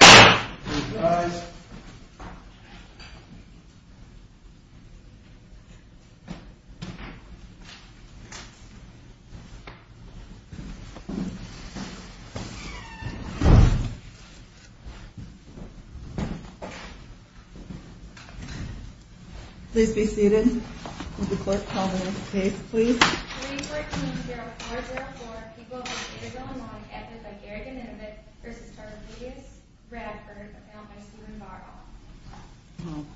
Close class. Please be seated. Will the court call the roll please? 314-0404, people of the state of Illinois, acted by Garrick and Inouye, versus Tavarius Redford, appellant by Steven Barrow.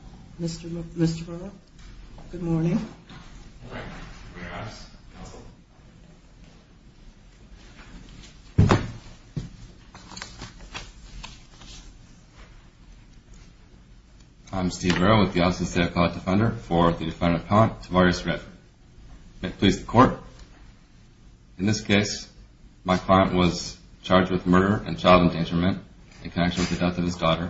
Mr. Barrow, good morning. Good morning. I'm Steve Barrow with the Office of the State of Colorado Defender for the defendant appellant, Tavarius Redford. May it please the court. In this case, my client was charged with murder and child endangerment in connection with the death of his daughter.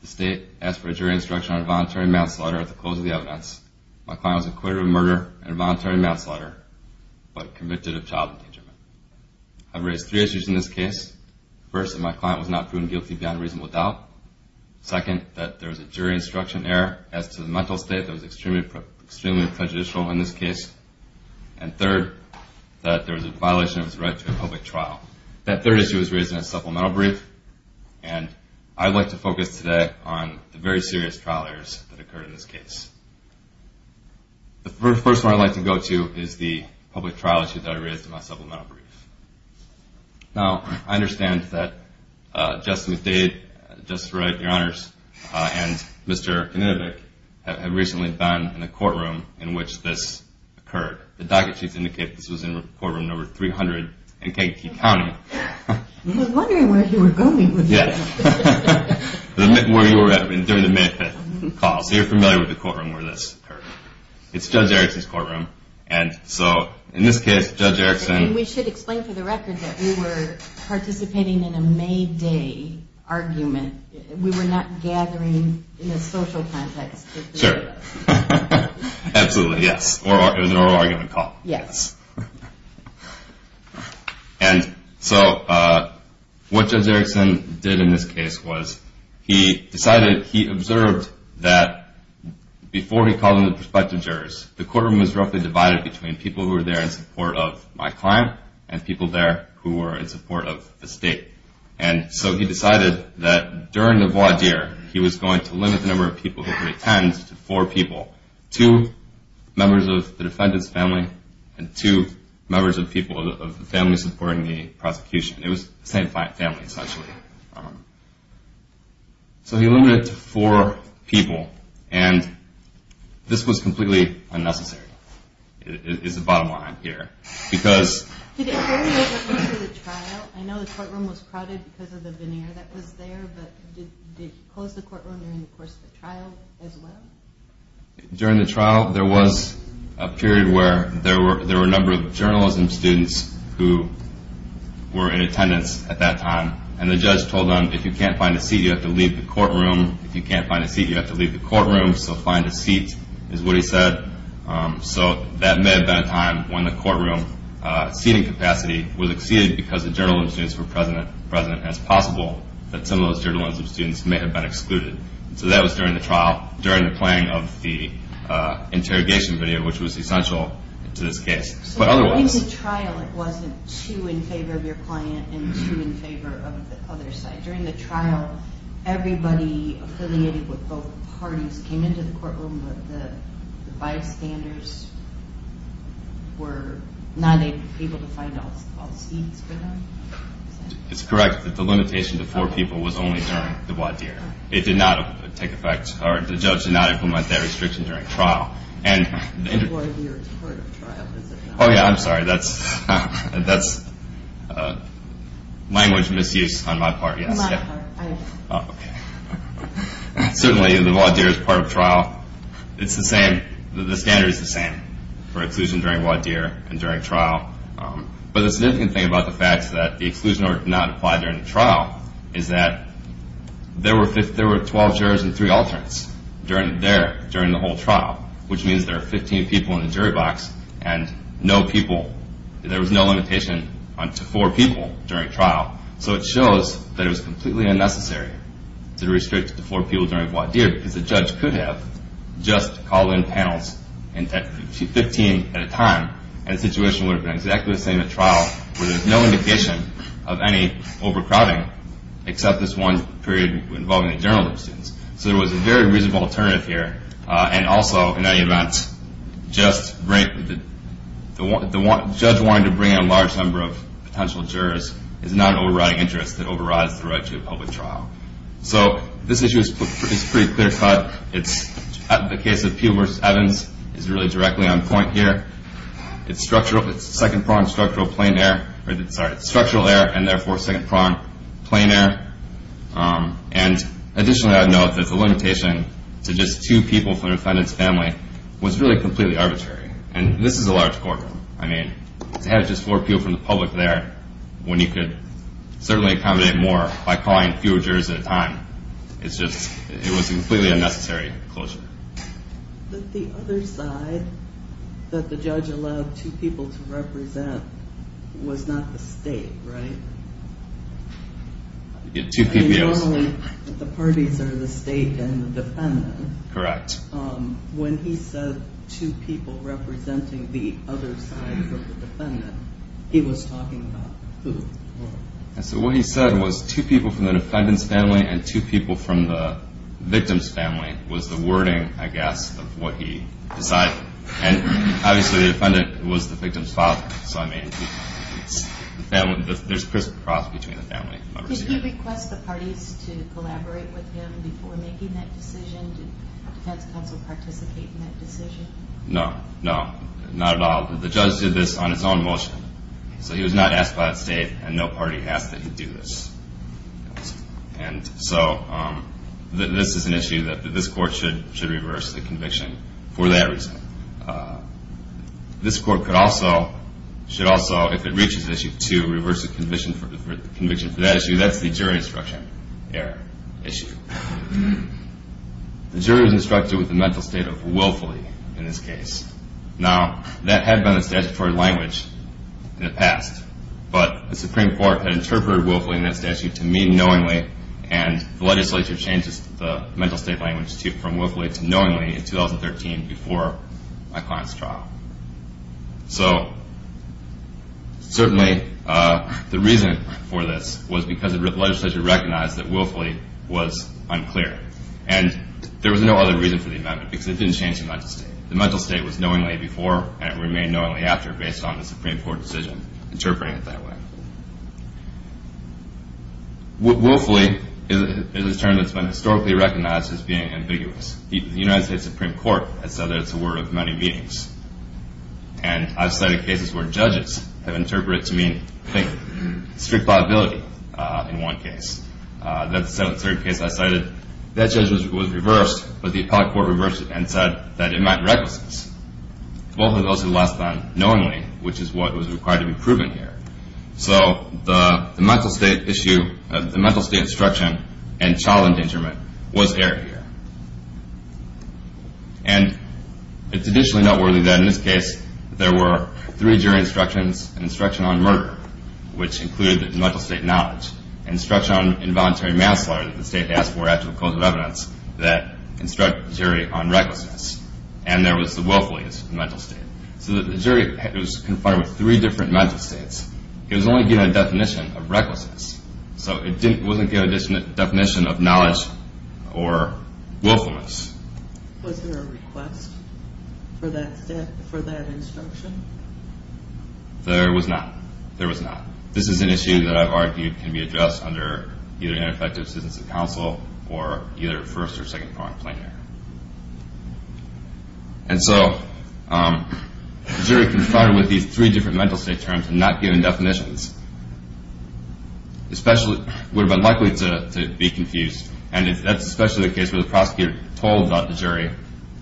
The state asked for a jury instruction on a voluntary manslaughter at the close of the evidence. My client was acquitted of murder and a voluntary manslaughter, but convicted of child endangerment. I've raised three issues in this case. First, that my client was not proven guilty beyond reasonable doubt. Second, that there is a jury instruction error as to the mental state that is extremely prejudicial in this case. And third, that there is a violation of his right to a public trial. That third issue was raised in a supplemental brief. And I'd like to focus today on the very serious trial errors that occurred in this case. The first one I'd like to go to is the public trial issue that I raised in my supplemental brief. Now, I understand that Justice Dade, Justice Redford, your honors, and Mr. Knudovic have recently been in a courtroom in which this occurred. The docket sheets indicate this was in courtroom number 300 in Kekow County. I was wondering where you were going with that. Where you were at during the May 5th call. So you're familiar with the courtroom where this occurred. It's Judge Erickson's courtroom. And so in this case, Judge Erickson. We should explain for the record that we were participating in a May Day argument. We were not gathering in a social context. Sure. Absolutely, yes. It was an oral argument call. Yes. And so what Judge Erickson did in this case was he decided, he observed that before he called in the prospective jurors, the courtroom was roughly divided between people who were there in support of my client and people there who were in support of the state. And so he decided that during the voir dire, he was going to limit the number of people who could attend to four people. Two members of the defendant's family and two members of the people of the family supporting the prosecution. It was the same family, essentially. So he limited it to four people. And this was completely unnecessary, is the bottom line here. Did it vary over the course of the trial? I know the courtroom was crowded because of the veneer that was there, but did he close the courtroom during the course of the trial as well? During the trial, there was a period where there were a number of journalism students who were in attendance at that time. And the judge told them, if you can't find a seat, you have to leave the courtroom. If you can't find a seat, you have to leave the courtroom. So find a seat, is what he said. So that may have been a time when the courtroom seating capacity was exceeded because the journalism students were present as possible, that some of those journalism students may have been excluded. So that was during the trial, during the playing of the interrogation video, which was essential to this case. But otherwise. So during the trial, it wasn't two in favor of your client and two in favor of the other side. During the trial, everybody affiliated with both parties came into the courtroom, but the bystanders were not able to find all seats for them? It's correct that the limitation to four people was only during the voir dire. It did not take effect, or the judge did not implement that restriction during trial. And the voir dire is part of trial, is it not? Oh, yeah, I'm sorry. That's language misuse on my part, yes. On my part, I understand. Oh, OK. Certainly, the voir dire is part of trial. It's the same. The standard is the same for exclusion during voir dire and during trial. But the significant thing about the fact that the exclusion order did not apply during the trial is that there were 12 jurors and three alternates there during the whole trial, which means there are 15 people in the jury box and no people. There was no limitation to four people during trial. So it shows that it was completely unnecessary to restrict it to four people during voir dire because the judge could have just called in panels 15 at a time, and the situation would have been exactly the same at trial, where there's no indication of any overcrowding, except this one period involving the journal of students. So there was a very reasonable alternative here. And also, in any event, the judge wanting to bring in a large number of potential jurors is not an overriding interest that overrides the right to a public trial. So this issue is pretty clear-cut. The case of Peele versus Evans is really directly on point here. It's structural. It's second-pronged structural plein air, or sorry, structural air, and therefore, second-pronged plain air. And additionally, I would note that the limitation to just two people from the defendant's family was really completely arbitrary. And this is a large courtroom. I mean, to have just four people from the public there, when you could certainly accommodate more by calling fewer jurors at a time, it's just it was a completely unnecessary closure. The other side that the judge allowed two people to represent was not the state, right? Yeah, two people. I mean, normally, the parties are the state and the defendant. Correct. When he said two people representing the other side of the defendant, he was talking about who? So what he said was two people from the defendant's family and two people from the victim's family was the wording, I guess, of what he decided. And obviously, the defendant was the victim's father. So I mean, there's crisscross between the family members. Did you request the parties to collaborate with him before making that decision? Did the defense counsel participate in that decision? No, no, not at all. The judge did this on its own motion. So he was not asked by the state, and no party asked that he do this. And so this is an issue that this court should reverse the conviction for that reason. This court could also, if it reaches issue two, reverse the conviction for that issue. That's the jury instruction error issue. The jury was instructed with the mental state of willfully in this case. Now, that had been the statutory language in the past. But the Supreme Court had interpreted willfully in that statute to mean knowingly, and the legislature changed the mental state language from willfully to knowingly in 2013 before my client's trial. So certainly, the reason for this was because the legislature recognized that willfully was unclear. And there was no other reason for the amendment, because it didn't change the mental state. The mental state was knowingly before, and it remained knowingly after based on the Supreme Court decision interpreting it that way. Willfully is a term that's been historically recognized as being ambiguous. The United States Supreme Court has said that it's a word of many meanings. And I've cited cases where judges have interpreted it as being strict liability in one case. That's a third case I cited. That judgment was reversed, but the appellate court reversed it and said that it meant recklessness. Willfully is also less than knowingly, which is what was required to be proven here. So the mental state instruction and child endangerment was error here. And it's additionally noteworthy that in this case, there were three jury instructions, an instruction on murder, which included mental state knowledge, an instruction on involuntary manslaughter that the state asked for after a court of evidence that instructed the jury on recklessness, and there was the willfully as a mental state. So the jury was confined with three different mental states. It was only given a definition of recklessness. So it wasn't given a definition of knowledge or willfulness. Was there a request for that instruction? There was not. There was not. This is an issue that I've argued can be addressed under either ineffective assistance of counsel or either first or second foreign plaintiff. And so the jury confounded with these three different mental state terms and not given definitions, would have been likely to be confused, and that's especially the case where the prosecutor told the jury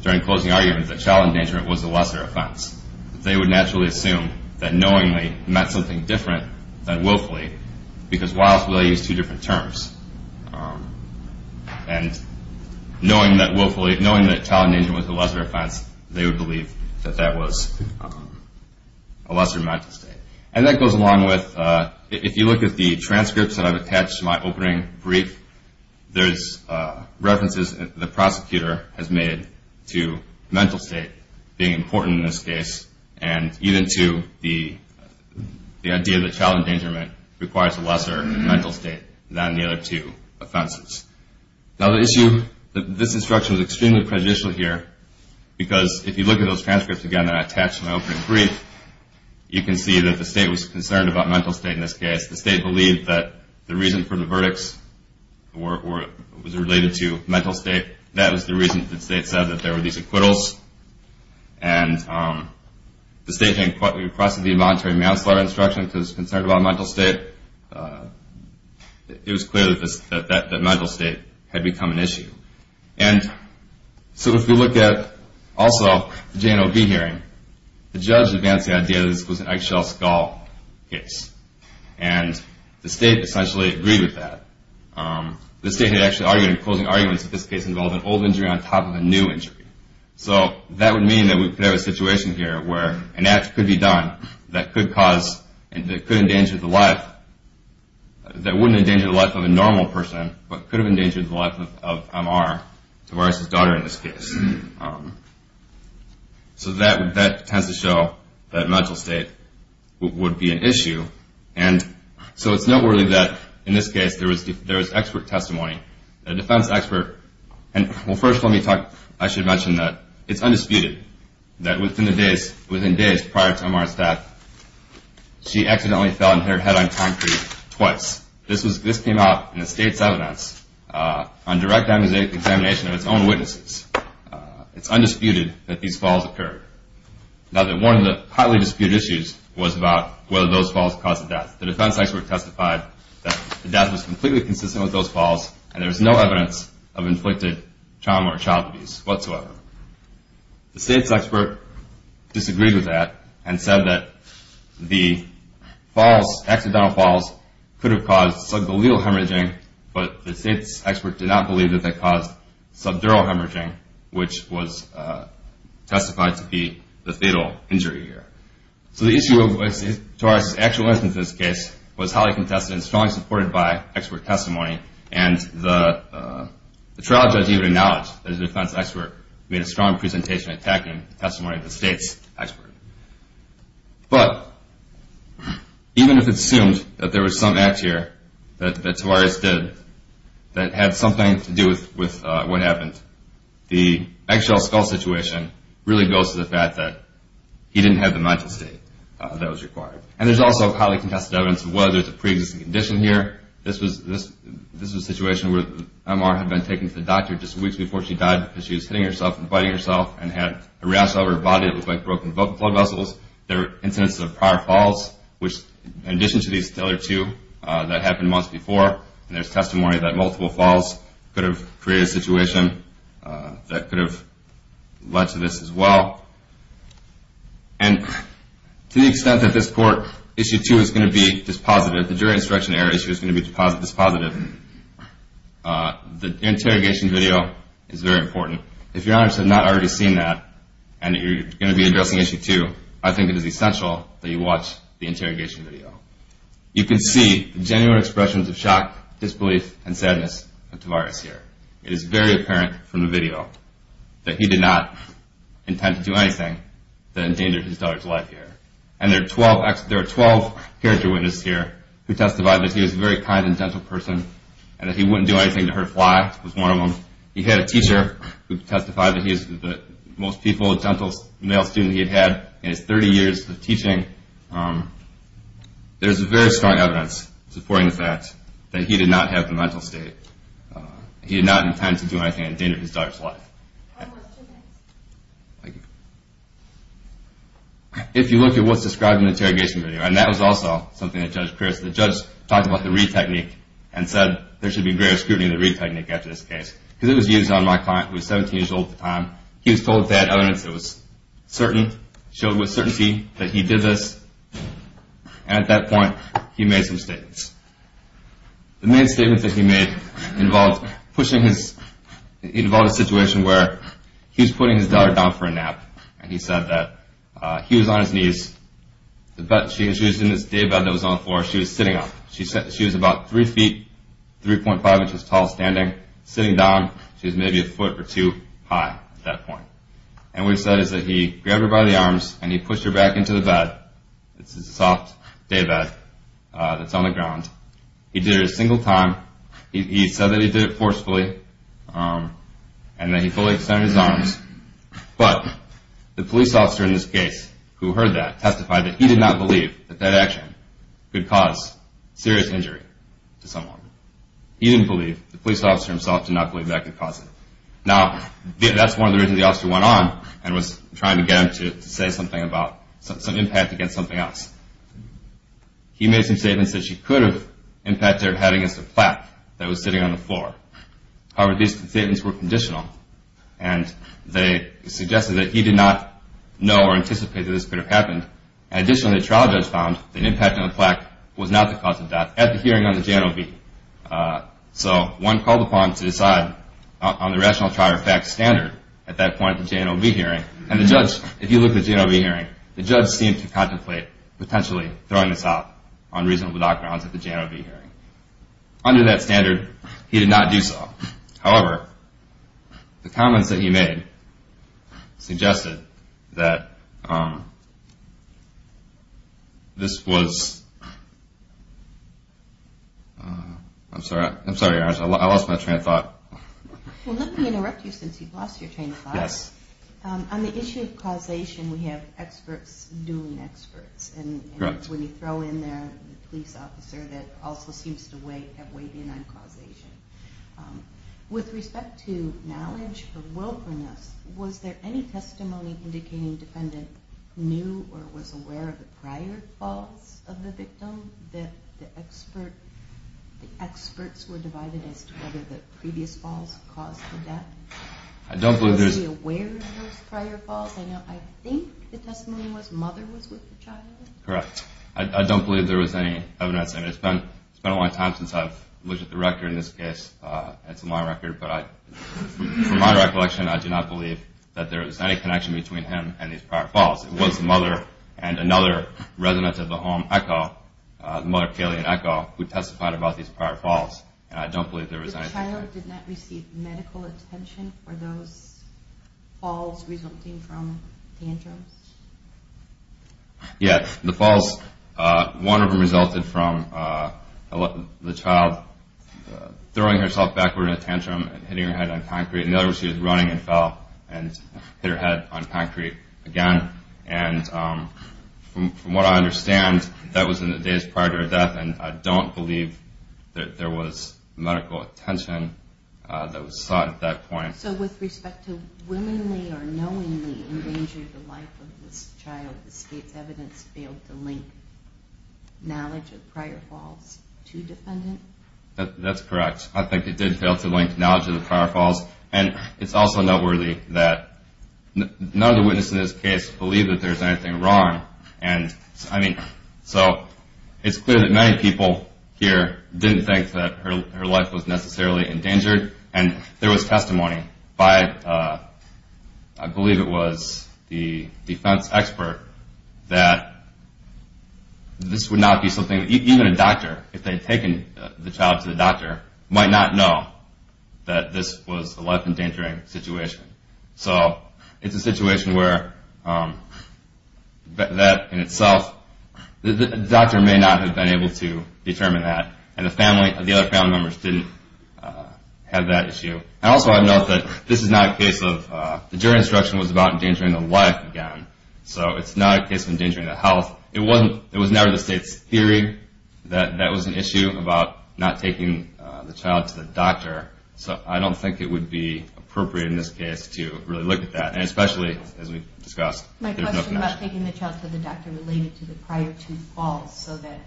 during closing arguments that child endangerment was the lesser offense. They would naturally assume that knowingly meant something different than willfully, because willfully is two different terms. And knowing that willfully, knowing that child endangerment was the lesser offense, they would believe that that was a lesser mental state. And that goes along with, if you look at the transcripts that I've attached to my opening brief, there's references the prosecutor has made to mental state being important in this case, and even to the idea that child endangerment requires a lesser mental state than the other two offenses. Now the issue, this instruction is extremely prejudicial here, because if you look at those transcripts again that I attached to my opening brief, you can see that the state was concerned about mental state in this case. The state believed that the reason for the verdicts was related to mental state. That was the reason that the state said that there were these acquittals. And the state then requested the voluntary manslaughter instruction because it was concerned about mental state. It was clear that mental state had become an issue. And so if you look at, also, the J&OB hearing, the judge advanced the idea that this was an eggshell skull case. And the state essentially agreed with that. The state had actually argued in closing arguments that this case involved an old injury on top of a new injury. So that would mean that there was a situation here where an act could be done that could cause, that could endanger the life, that wouldn't endanger the life of a normal person, but could have endangered the life of MR, Tavares' daughter in this case. So that tends to show that mental state would be an issue. And so it's noteworthy that in this case there was expert testimony. The defense expert, and first let me talk, I should mention that it's undisputed that within days prior to MR's death, she accidentally fell and hit her head on concrete twice. This came out in the state's evidence on direct examination of its own witnesses. It's undisputed that these falls occurred. Now one of the highly disputed issues was about whether those falls caused the death. The defense expert testified that the death was completely consistent with those falls and there was no evidence of inflicted trauma or child abuse whatsoever. The state's expert disagreed with that and said that the falls, accidental falls, could have caused subgluteal hemorrhaging, but the state's expert did not believe that that caused subdural hemorrhaging, which was testified to be the fatal injury here. So the issue of Tavares' actual instance in this case was highly contested and strongly supported by expert testimony and the trial judge even acknowledged that his defense expert made a strong presentation attacking the testimony of the state's expert. But even if it's assumed that there was some act here that Tavares did that had something to do with what happened, the actual skull situation really goes to the fact that he didn't have the majesty that was required. And there's also highly contested evidence of whether there's a pre-existing condition here. This was a situation where MR had been taken to the doctor just weeks before she died because she was hitting herself and biting herself and had a rash all over her body that looked like broken blood vessels. There were incidents of prior falls, which in addition to these other two that happened months before, and there's testimony that multiple falls could have created a situation that could have led to this as well. And to the extent that this court, Issue 2, is going to be dispositive, the jury instruction error issue is going to be dispositive, the interrogation video is very important. If your honors have not already seen that and you're going to be addressing Issue 2, I think it is essential that you watch the interrogation video. You can see the genuine expressions of shock, disbelief, and sadness of Tavares here. It is very apparent from the video that he did not intend to do anything that endangered his daughter's life here. And there are 12 character witnesses here who testified that he was a very kind and gentle person and that he wouldn't do anything to hurt a fly, was one of them. He had a teacher who testified that he was the most peaceful, gentle male student he had had in his 30 years of teaching. There's very strong evidence supporting the fact that he did not have the mental state. He did not intend to do anything that endangered his daughter's life. If you look at what's described in the interrogation video, and that was also something that Judge Pierce, the judge talked about the Reid Technique and said there should be greater scrutiny of the Reid Technique after this case because it was used on my client who was 17 years old at the time. He was told that evidence that was certain, showed with certainty that he did this. And at that point, he made some statements. The main statement that he made involved pushing his... It involved a situation where he was putting his daughter down for a nap and he said that he was on his knees. She was in this daybed that was on the floor. She was sitting up. She was about 3 feet, 3.5 inches tall, standing, sitting down. She was maybe a foot or two high at that point. And what he said is that he grabbed her by the arms and he pushed her back into the bed. It's a soft daybed that's on the ground. He did it a single time. He said that he did it forcefully and that he fully extended his arms. But the police officer in this case who heard that testified that he did not believe that that action could cause serious injury to someone. He didn't believe. The police officer himself did not believe that could cause it. Now, that's one of the reasons the officer went on and was trying to get him to say something about some impact against something else. He made some statements that she could have impacted her head against a plaque that was sitting on the floor. However, these statements were conditional, and they suggested that he did not know or anticipate that this could have happened. Additionally, a trial judge found that an impact on the plaque was not the cause of death at the hearing on the J&OB. So one called upon to decide on the rational trial fact standard at that point at the J&OB hearing, and the judge, if you look at the J&OB hearing, the judge seemed to contemplate potentially throwing this out on reasonable backgrounds at the J&OB hearing. Under that standard, he did not do so. However, the comments that he made suggested that this was... I'm sorry, I lost my train of thought. Well, let me interrupt you since you've lost your train of thought. Yes. On the issue of causation, we have experts doing experts, and when you throw in there the police officer that also seems to have weighed in on causation. With respect to knowledge or willfulness, was there any testimony indicating the defendant knew or was aware of the prior falls of the victim that the experts were divided as to whether the previous falls caused the death? I don't believe there's... Was he aware of those prior falls? I think the testimony was mother was with the child. Correct. I don't believe there was any evidence. It's been a long time since I've looked at the record in this case. It's my record, but from my recollection, I do not believe that there was any connection between him and these prior falls. It was the mother and another resident of the home, Echo, the mother, Kaylee and Echo, who testified about these prior falls, and I don't believe there was anything... The child did not receive medical attention for those falls resulting from tantrums? Yes. The falls, one of them resulted from the child throwing herself backward in a tantrum and hitting her head on concrete. And from what I understand, that was in the days prior to her death, and I don't believe that there was medical attention that was sought at that point. So with respect to willingly or knowingly endangering the life of this child, the state's evidence failed to link knowledge of prior falls to defendant? That's correct. I think it did fail to link knowledge of the prior falls, and it's also noteworthy that none of the witnesses in this case believe that there's anything wrong. So it's clear that many people here didn't think that her life was necessarily endangered, and there was testimony by, I believe it was the defense expert, that this would not be something... Even a doctor, if they had taken the child to the doctor, might not know that this was a life-endangering situation. So it's a situation where that, in itself, the doctor may not have been able to determine that, and the other family members didn't have that issue. And also I'd note that this is not a case of... The jury instruction was about endangering the life again, so it's not a case of endangering the health. It was never the state's theory that that was an issue I'm talking about not taking the child to the doctor, so I don't think it would be appropriate in this case to really look at that, and especially, as we discussed, there's no connection. My question is about taking the child to the doctor related to the prior two falls so that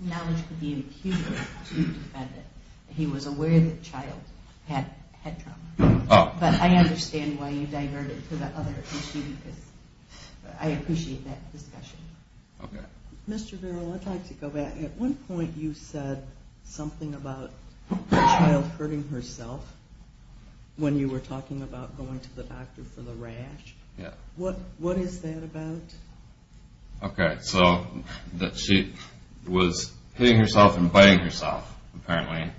knowledge could be imputed to the defendant. He was aware that the child had head trauma. Oh. But I understand why you diverted to the other issue, because I appreciate that discussion. Okay. Mr. Vero, I'd like to go back. At one point you said something about the child hurting herself when you were talking about going to the doctor for the rash. Yeah. What is that about? Okay. So she was hitting herself and biting herself, apparently.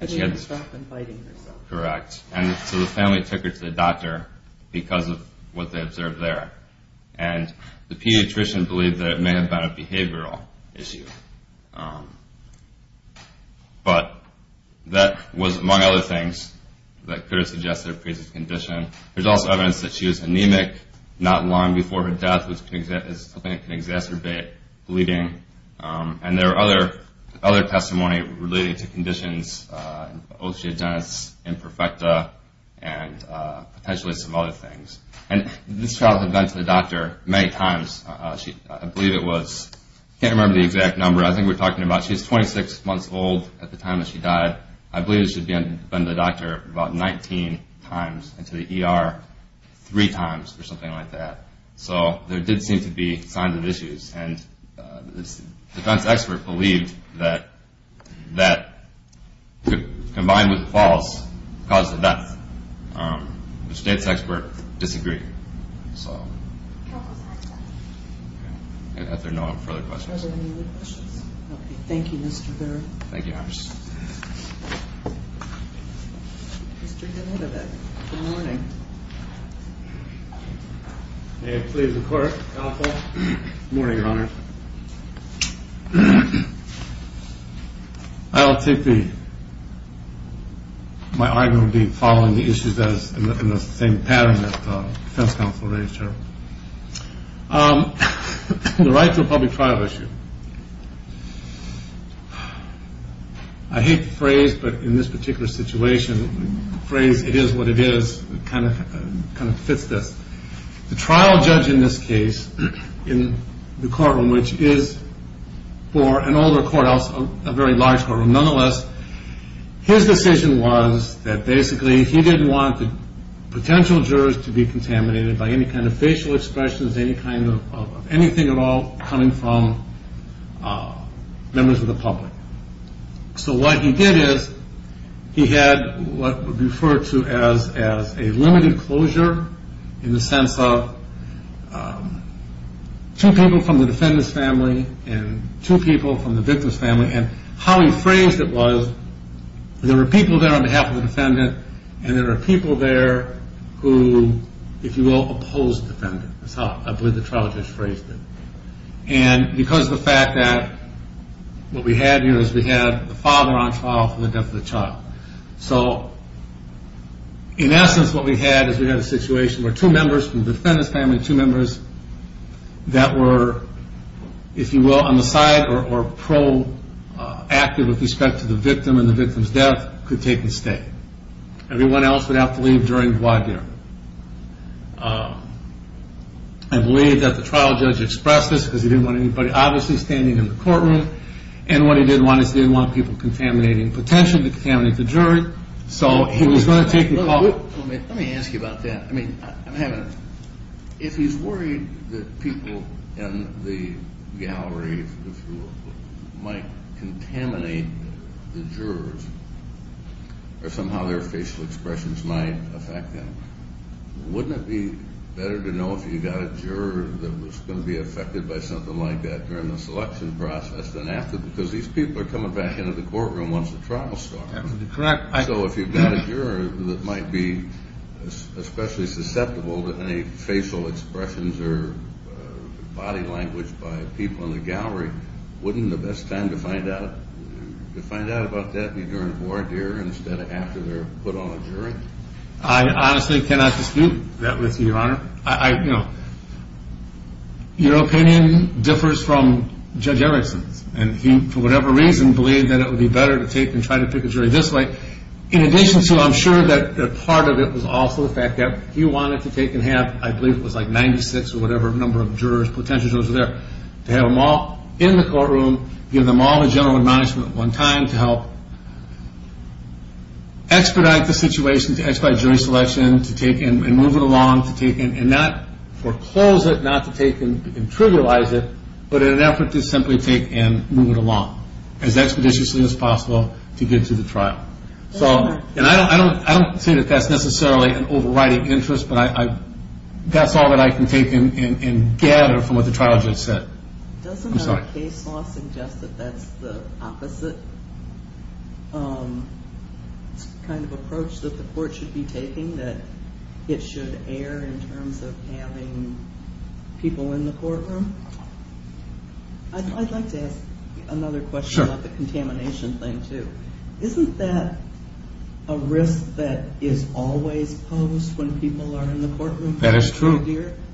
Hitting herself and biting herself. Correct. And so the family took her to the doctor because of what they observed there. And the pediatrician believed that it may have been a behavioral issue. But that was, among other things, that could have suggested a pre-existing condition. There's also evidence that she was anemic not long before her death, which is something that can exacerbate bleeding. And there are other testimony related to conditions. Oh, she had done this imperfecta and potentially some other things. And this child had been to the doctor many times. I believe it was, I can't remember the exact number. I think we're talking about she was 26 months old at the time that she died. I believe she'd been to the doctor about 19 times and to the ER three times or something like that. So there did seem to be signs of issues. And this defense expert believed that combined with the falls caused the death. The state's expert disagreed. Are there no further questions? Are there any other questions? Okay, thank you, Mr. Barrett. Thank you, Your Honor. Mr. Danilovic, good morning. May it please the Court, counsel. Good morning, Your Honor. I'll take the, my argument would be following the issues in the same pattern that the defense counsel raised here. The right to a public trial issue. I hate the phrase, but in this particular situation, the phrase, it is what it is, kind of fits this. The trial judge in this case, in the courtroom, which is for an older courthouse, a very large courtroom, nonetheless, his decision was that basically he didn't want the potential jurors to be contaminated by any kind of facial expressions, any kind of anything at all coming from members of the public. So what he did is he had what would be referred to as a limited closure in the sense of two people from the defendant's family and two people from the victim's family, and how he phrased it was there were people there on behalf of the defendant and there were people there who, if you will, opposed the defendant. That's how I believe the trial judge phrased it. And because of the fact that what we had here is we had the father on trial for the death of the child. So in essence, what we had is we had a situation where two members from the defendant's family, two members that were, if you will, on the side or pro-active with respect to the victim and the victim's death, could take and stay. Everyone else would have to leave during the wide year. I believe that the trial judge expressed this because he didn't want anybody obviously standing in the courtroom and what he didn't want is he didn't want people contaminating potential to contaminate the jury, so he was going to take the call. Let me ask you about that. I mean, if he's worried that people in the gallery, if you will, might contaminate the jurors or somehow their facial expressions might affect them, wouldn't it be better to know if you've got a juror that was going to be affected by something like that during the selection process than after? Because these people are coming back into the courtroom once the trial starts. So if you've got a juror that might be especially susceptible to any facial expressions or body language by people in the gallery, wouldn't the best time to find out about that be during a board hearing instead of after they're put on a jury? I honestly cannot dispute that with you, Your Honor. Your opinion differs from Judge Erickson's and he, for whatever reason, believed that it would be better to take and try to pick a jury this way. In addition to, I'm sure that part of it was also the fact that he wanted to take and have, I believe it was like 96 or whatever number of jurors, potential jurors there, to have them all in the courtroom, give them all the general admonishment at one time to help expedite the situation, to expedite jury selection, to take and move it along, to take and not foreclose it, not to take and trivialize it, but in an effort to simply take and move it along as expeditiously as possible to get to the trial. And I don't say that that's necessarily an overriding interest, but that's all that I can take and gather from what the trial judge said. Doesn't the case law suggest that that's the opposite kind of approach that the court should be taking, that it should err in terms of having people in the courtroom? I'd like to ask another question about the contamination thing, too. Isn't that a risk that is always posed when people are in the courtroom? That is true.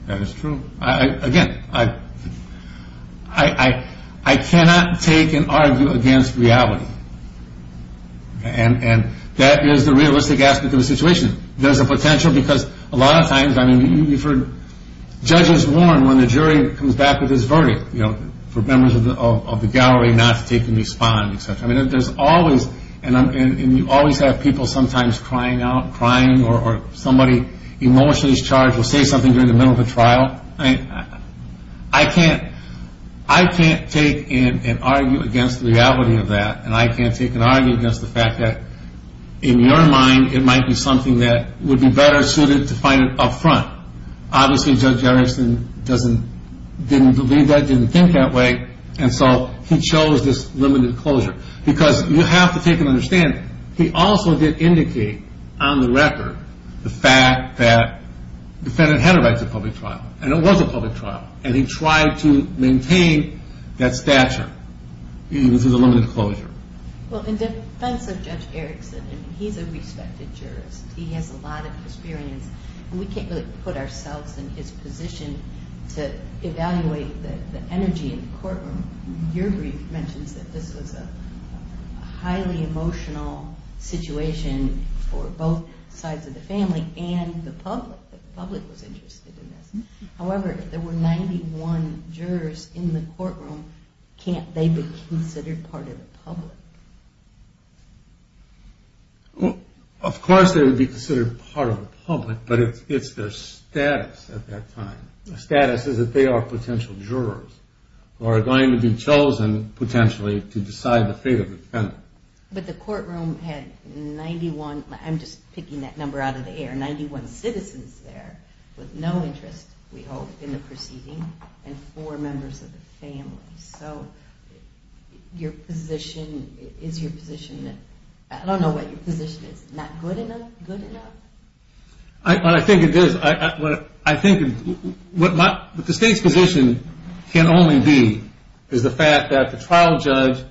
That is true. Again, I cannot take and argue against reality, and that is the realistic aspect of the situation. There's a potential because a lot of times, I mean, you've heard judges warn when the jury comes back with his verdict, you know, for members of the gallery not to take and respond, et cetera. I mean, there's always, and you always have people sometimes crying out, crying, or somebody emotionally charged will say something during the middle of a trial. I can't take and argue against the reality of that, and I can't take and argue against the fact that in your mind, it might be something that would be better suited to find it up front. Obviously Judge Erickson didn't believe that, didn't think that way, and so he chose this limited closure because you have to take and understand, he also did indicate on the record the fact that the defendant had a right to public trial, and it was a public trial, and he tried to maintain that stature even through the limited closure. Well, in defense of Judge Erickson, I mean, he's a respected jurist. He has a lot of experience, and we can't really put ourselves in his position to evaluate the energy in the courtroom. Your brief mentions that this was a highly emotional situation for both sides of the family and the public, that the public was interested in this. However, if there were 91 jurors in the courtroom, can't they be considered part of the public? Well, of course they would be considered part of the public, but it's their status at that time. Their status is that they are potential jurors who are going to be chosen potentially to decide the fate of the defendant. But the courtroom had 91, I'm just picking that number out of the air, 91 citizens there with no interest, we hope, in the proceeding, and four members of the family. So your position, is your position, I don't know what your position is, not good enough, good enough? I think it is. I think what the state's position can only be is the fact that the trial judge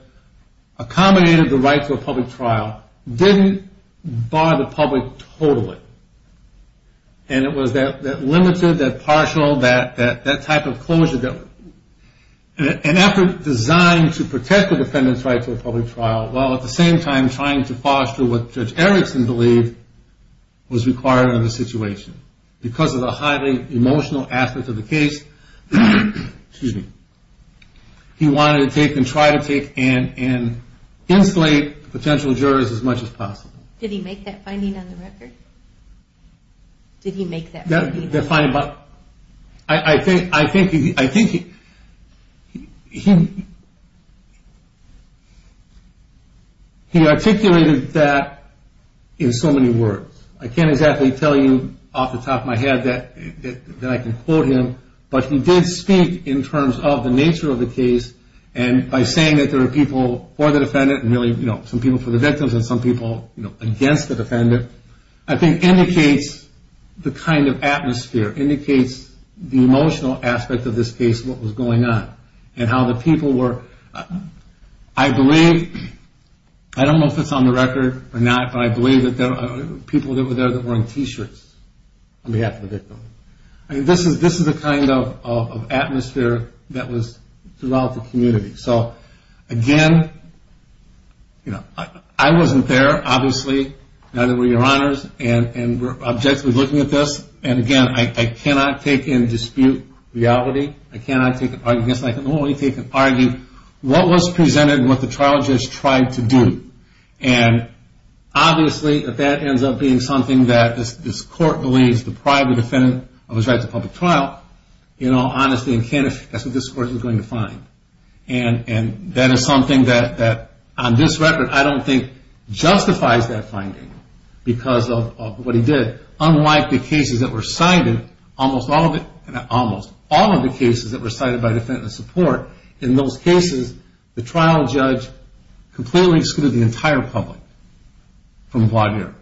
accommodated the right to a public trial, didn't bar the public totally. And it was that limited, that partial, that type of closure, an effort designed to protect the defendant's right to a public trial, while at the same time trying to foster what Judge Erickson believed was required in the situation. Because of the highly emotional aspect of the case, he wanted to take and try to take and insulate potential jurors as much as possible. Did he make that finding on the record? Did he make that finding? I think he articulated that in so many words. I can't exactly tell you off the top of my head that I can quote him, but he did speak in terms of the nature of the case, and by saying that there are people for the defendant, and really some people for the victims and some people against the defendant, I think indicates the kind of atmosphere, indicates the emotional aspect of this case, what was going on, and how the people were, I believe, I don't know if it's on the record or not, but I believe that there were people there that were in t-shirts on behalf of the victim. So, again, I wasn't there, obviously, neither were your honors, and we're objectively looking at this, and again, I cannot take and dispute reality, I cannot take and argue what was presented and what the trial judge tried to do. And obviously, if that ends up being something that this court believes, deprived the defendant of his right to a public trial, in all honesty and candor, that's what this court is going to find. And that is something that, on this record, I don't think justifies that finding, because of what he did. Unlike the cases that were cited, almost all of it, almost all of the cases that were cited by defendant support, in those cases, the trial judge completely excluded the entire public from a broad area.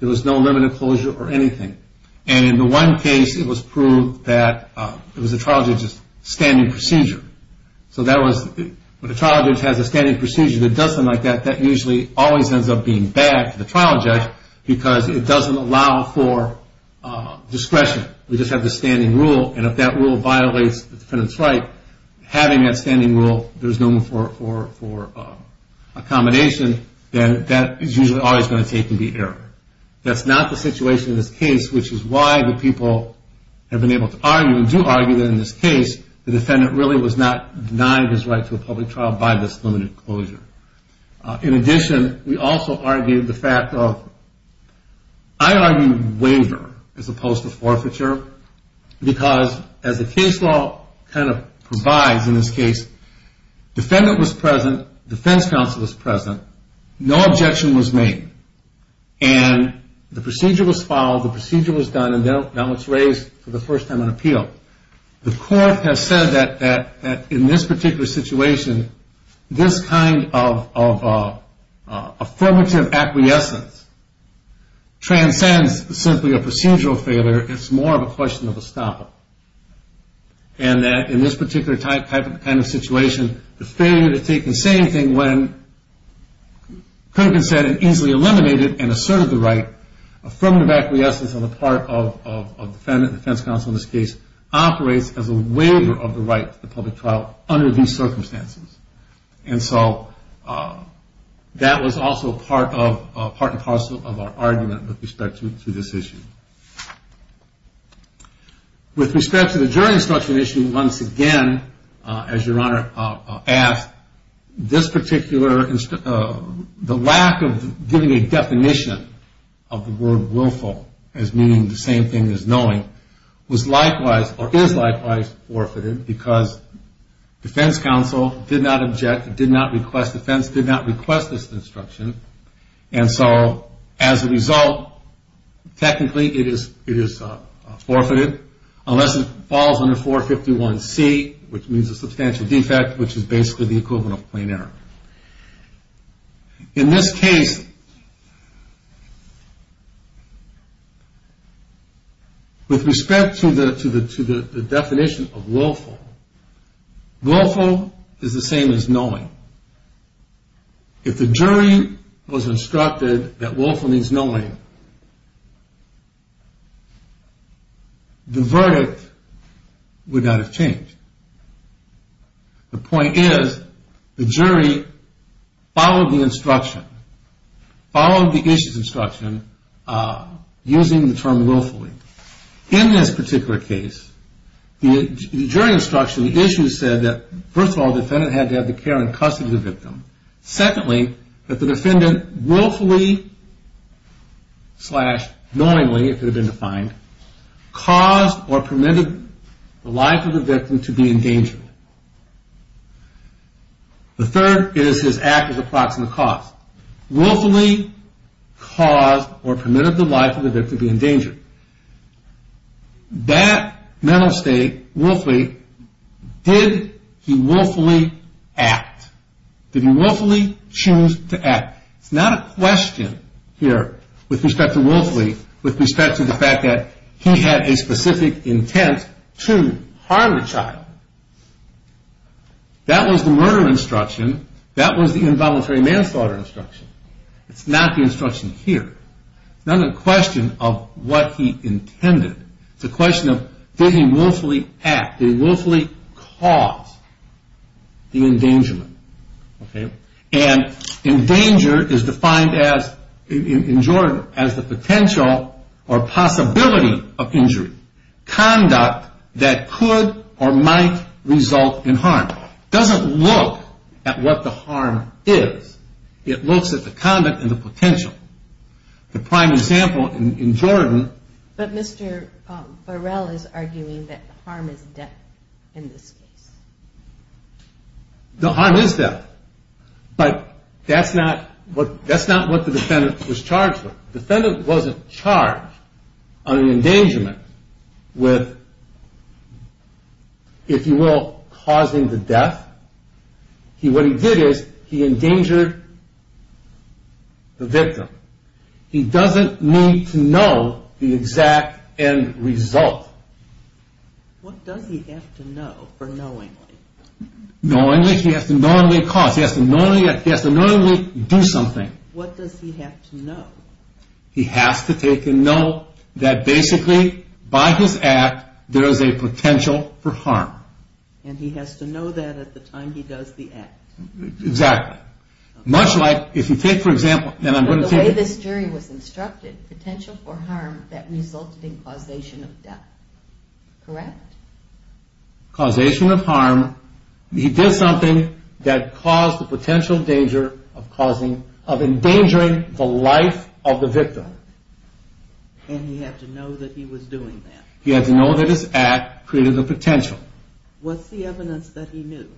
There was no limited closure or anything. And in the one case, it was proved that it was the trial judge's standing procedure. So that was, when the trial judge has a standing procedure that does something like that, that usually always ends up being bad for the trial judge, because it doesn't allow for discretion. We just have the standing rule, and if that rule violates the defendant's right, having that standing rule, there's no room for accommodation, then that is usually always going to take and be errored. That's not the situation in this case, which is why the people have been able to argue and do argue that in this case, the defendant really was not denying his right to a public trial by this limited closure. In addition, we also argued the fact of, I argue waiver as opposed to forfeiture, because, as the case law kind of provides in this case, defendant was present, defense counsel was present, no objection was made. And the procedure was followed, the procedure was done, and now it's raised for the first time on appeal. The court has said that in this particular situation, this kind of affirmative acquiescence transcends simply a procedural failure. It's more of a question of a stopper. And that in this particular type of situation, the failure to take and say anything when could have been said and easily eliminated and asserted the right, affirmative acquiescence on the part of the defendant, defense counsel in this case, operates as a waiver of the right to the public trial under these circumstances. And so that was also part and parcel of our argument with respect to this issue. With respect to the jury instruction issue, once again, as your Honor asked, this particular, the lack of giving a definition of the word willful as meaning the same thing as knowing, was likewise, or is likewise, forfeited, because defense counsel did not object, did not request, defense did not request this instruction. And so, as a result, technically it is forfeited, unless it falls under 451C, which means a substantial defect, which is basically the equivalent of plain error. In this case, with respect to the definition of willful, willful is the same as knowing. If the jury was instructed that willful means knowing, the verdict would not have changed. The point is, the jury followed the instruction, followed the issue's instruction, using the term willfully. In this particular case, the jury instruction, the issue said that, first of all, the defendant had to have the care and custody of the victim. Secondly, that the defendant willfully, slash knowingly, if it had been defined, caused or permitted the life of the victim to be in danger. The third is his act of approximate cause. Willfully caused or permitted the life of the victim to be in danger. That mental state, willfully, did he willfully act? Did he willfully choose to act? It's not a question here, with respect to willfully, with respect to the fact that he had a specific intent to harm the child. That was the murder instruction. That was the involuntary manslaughter instruction. It's not the instruction here. It's not a question of what he intended. It's a question of did he willfully act? Did he willfully cause the endangerment? And endanger is defined in Jordan as the potential or possibility of injury. Conduct that could or might result in harm. It doesn't look at what the harm is. It looks at the conduct and the potential. The prime example in Jordan. But Mr. Burrell is arguing that harm is death in this case. The harm is death. But that's not what the defendant was charged with. The defendant wasn't charged on an endangerment with, if you will, causing the death. What he did is he endangered the victim. He doesn't need to know the exact end result. What does he have to know for knowingly? Knowingly, he has to knowingly cause. He has to knowingly do something. What does he have to know? He has to take a note that basically by his act there is a potential for harm. And he has to know that at the time he does the act. Exactly. Much like if you take, for example, and I'm going to take it. The way this jury was instructed, potential for harm that resulted in causation of death. Correct? Causation of harm. He did something that caused the potential danger of causing, of endangering the life of the victim. And he had to know that he was doing that. He had to know that his act created the potential. What's the evidence that he knew?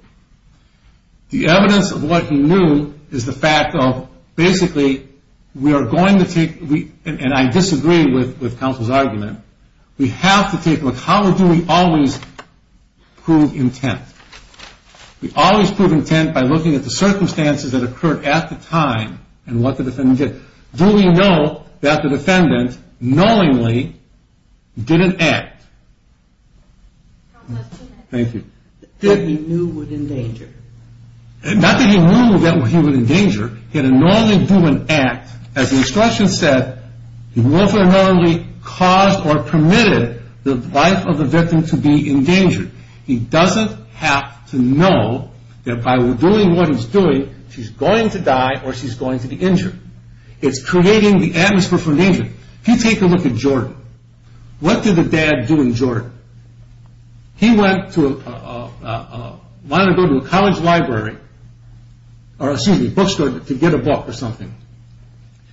The evidence of what he knew is the fact of basically we are going to take, and I disagree with counsel's argument. We have to take a look. How do we always prove intent? We always prove intent by looking at the circumstances that occurred at the time and what the defendant did. Do we know that the defendant knowingly didn't act? Thank you. That he knew would endanger. Not that he knew that he would endanger. He didn't knowingly do an act. As the instruction said, he knowingly caused or permitted the life of the victim to be endangered. He doesn't have to know that by doing what he's doing, she's going to die or she's going to be injured. It's creating the atmosphere for danger. If you take a look at Jordan. What did the dad do in Jordan? He wanted to go to a college library or a bookstore to get a book or something.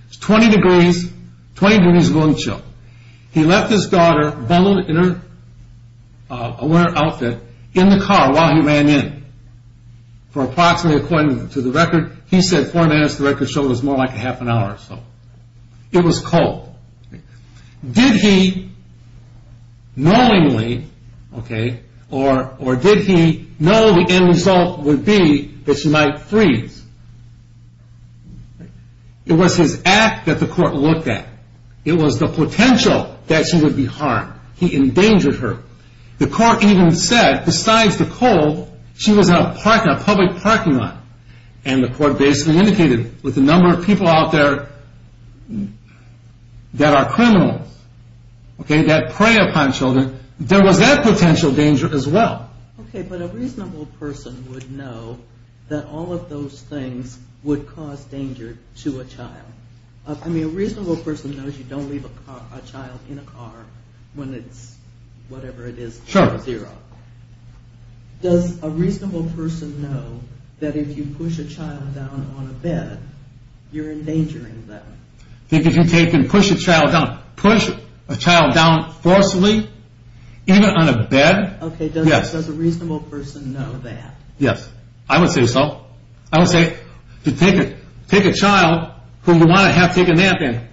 It's 20 degrees, 20 degrees and going to chill. He left his daughter bundled in a winter outfit in the car while he ran in for approximately, according to the record, he said four minutes. The record showed it was more like half an hour or so. It was cold. Did he knowingly or did he know the end result would be that she might freeze? It was his act that the court looked at. It was the potential that she would be harmed. He endangered her. The court even said besides the cold, she was in a public parking lot. The court basically indicated with the number of people out there that are criminals, that prey upon children, there was that potential danger as well. A reasonable person would know that all of those things would cause danger to a child. A reasonable person knows you don't leave a child in a car when it's whatever it is. Zero. Does a reasonable person know that if you push a child down on a bed, you're endangering them? If you take and push a child down, push a child down forcibly, even on a bed, yes. Does a reasonable person know that? Yes. I would say so. I would say to take a child whom you want to have take a nap in,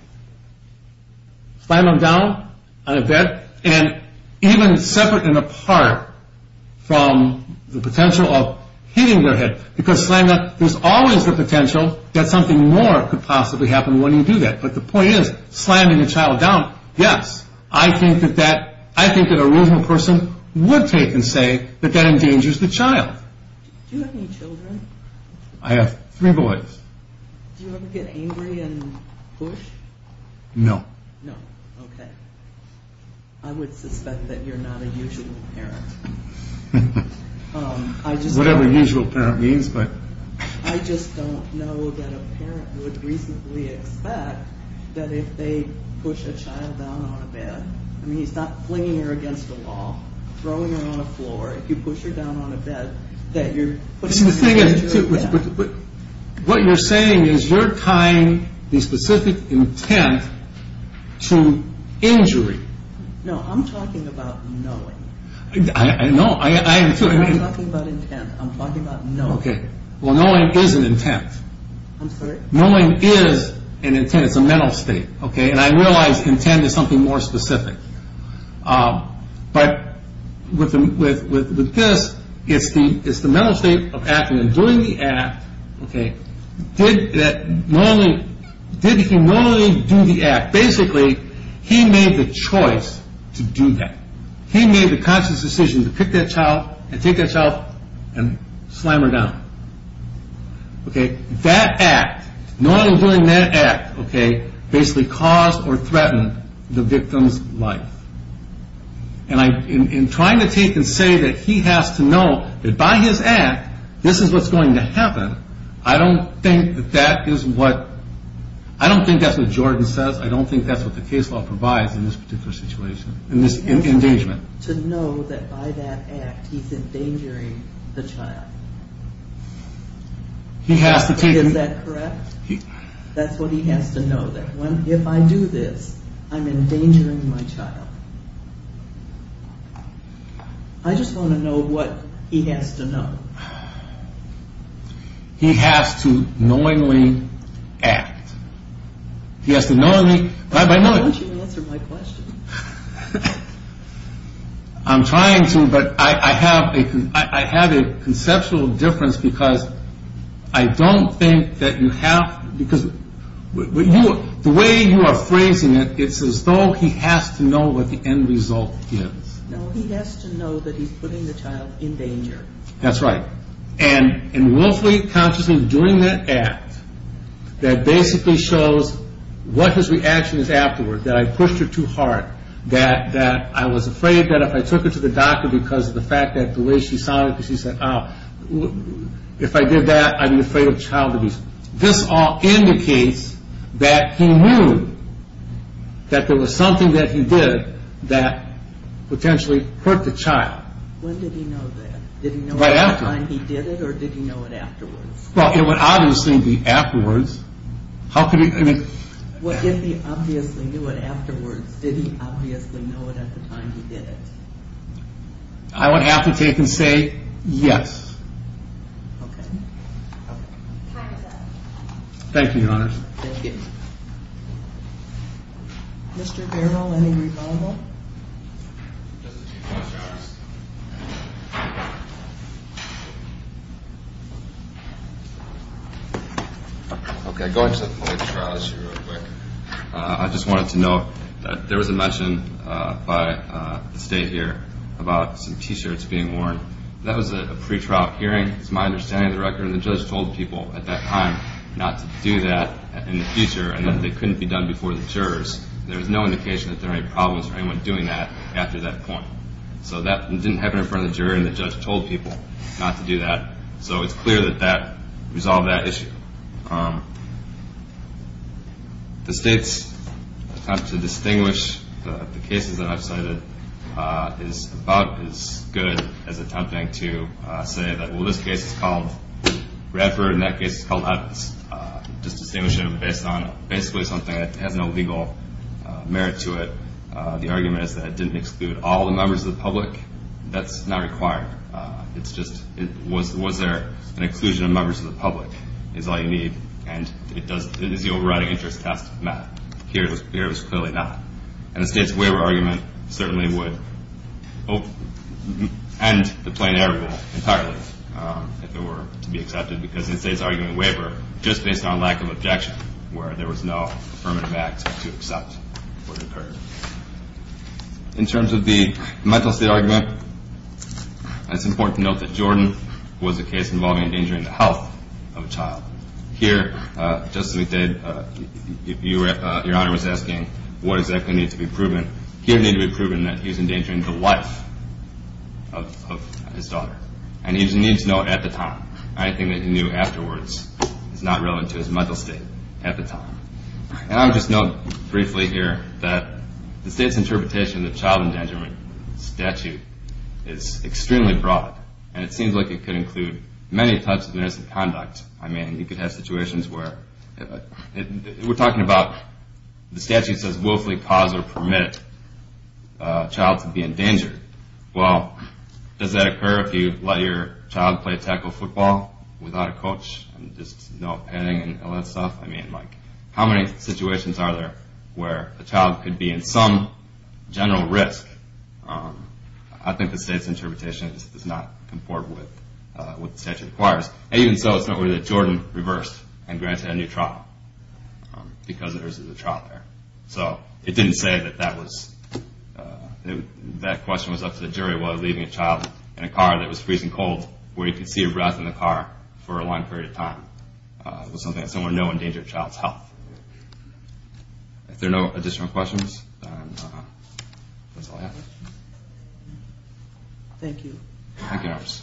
slam them down on a bed, and even separate and apart from the potential of hitting their head. Because slamming up, there's always the potential that something more could possibly happen when you do that. But the point is slamming a child down, yes. I think that a reasonable person would take and say that that endangers the child. Do you have any children? I have three boys. Do you ever get angry and push? No. No, okay. I would suspect that you're not a usual parent. Whatever usual parent means, but... I just don't know that a parent would reasonably expect that if they push a child down on a bed, I mean, he's not flinging her against a wall, throwing her on a floor. What you're saying is you're tying the specific intent to injury. No, I'm talking about knowing. No, I am too. I'm not talking about intent. I'm talking about knowing. Okay. Well, knowing is an intent. I'm sorry? Knowing is an intent. It's a mental state, okay? And I realize intent is something more specific. But with this, it's the mental state of acting. And during the act, okay, did he normally do the act? Basically, he made the choice to do that. He made the conscious decision to pick that child and take that child and slam her down. Okay, that act, knowing and doing that act, okay, basically caused or threatened the victim's life. And in trying to take and say that he has to know that by his act, this is what's going to happen, I don't think that that is what... I don't think that's what Jordan says. I don't think that's what the case law provides in this particular situation, in this engagement. To know that by that act, he's endangering the child. He has to take... Is that correct? That's what he has to know, that if I do this, I'm endangering my child. I just want to know what he has to know. He has to knowingly act. He has to knowingly... Why don't you answer my question? I'm trying to, but I have a conceptual difference because I don't think that you have... Because the way you are phrasing it, it's as though he has to know what the end result is. No, he has to know that he's putting the child in danger. That's right. And willfully, consciously doing that act, that basically shows what his reaction is afterward, that I pushed her too hard, that I was afraid that if I took her to the doctor because of the fact that the way she sounded, she said, if I did that, I'd be afraid of child abuse. This all indicates that he knew that there was something that he did that potentially hurt the child. When did he know that? Right after. Did he know it at the time he did it, or did he know it afterwards? Well, it would obviously be afterwards. How could he... Well, if he obviously knew it afterwards, did he obviously know it at the time he did it? I would have to take and say yes. Okay. Time is up. Thank you, Your Honor. Thank you. Mr. Barrow, any rebuttal? Just a few points, Your Honor. Okay, going to the police trial issue real quick. I just wanted to note that there was a mention by the state here about some T-shirts being worn. That was a pretrial hearing. It's my understanding of the record, and the judge told people at that time not to do that in the future and that they couldn't be done before the jurors. There was no indication that there were any problems with anyone doing that after that point. So that didn't happen in front of the juror, and the judge told people not to do that. So it's clear that that resolved that issue. The state's attempt to distinguish the cases that I've cited is about as good as attempting to say that, well, this case is called Radford, and that case is called Evans. Just distinguish it based on basically something that has no legal merit to it. The argument is that it didn't exclude all the members of the public. That's not required. It's just was there an exclusion of members of the public is all you need, and is the overriding interest test met? Here it was clearly not. And the state's waiver argument certainly would end the plain error rule entirely if it were to be accepted because it says argument waiver just based on lack of objection, where there was no affirmative act to accept what occurred. In terms of the mental state argument, it's important to note that Jordan was a case involving endangering the health of a child. Here, just as we did, Your Honor was asking what exactly needs to be proven. Here it needed to be proven that he was endangering the life of his daughter, and he just needs to know at the time. Anything that he knew afterwards is not relevant to his mental state at the time. And I'll just note briefly here that the state's interpretation of the child endangerment statute is extremely broad, and it seems like it could include many types of misconduct. I mean, you could have situations where we're talking about the statute says willfully cause or permit a child to be endangered. Well, does that occur if you let your child play tackle football without a coach, and just no penning and all that stuff? I mean, like, how many situations are there where a child could be in some general risk? I think the state's interpretation does not comport with what the statute requires. Even so, it's not really that Jordan reversed and granted a new trial because there isn't a trial there. So it didn't say that that question was up to the jury while leaving a child in a car that was freezing cold where he could see a breath in the car for a long period of time. It was something that's somewhere no endanger a child's health. If there are no additional questions, that's all I have. Thank you. Thank you, nurse.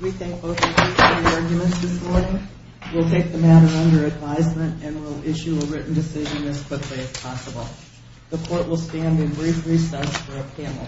We thank both of you for your arguments this morning. We'll take the matter under advisement and we'll issue a written decision as quickly as possible. The court will stand in brief recess for a panel exchange. All rise.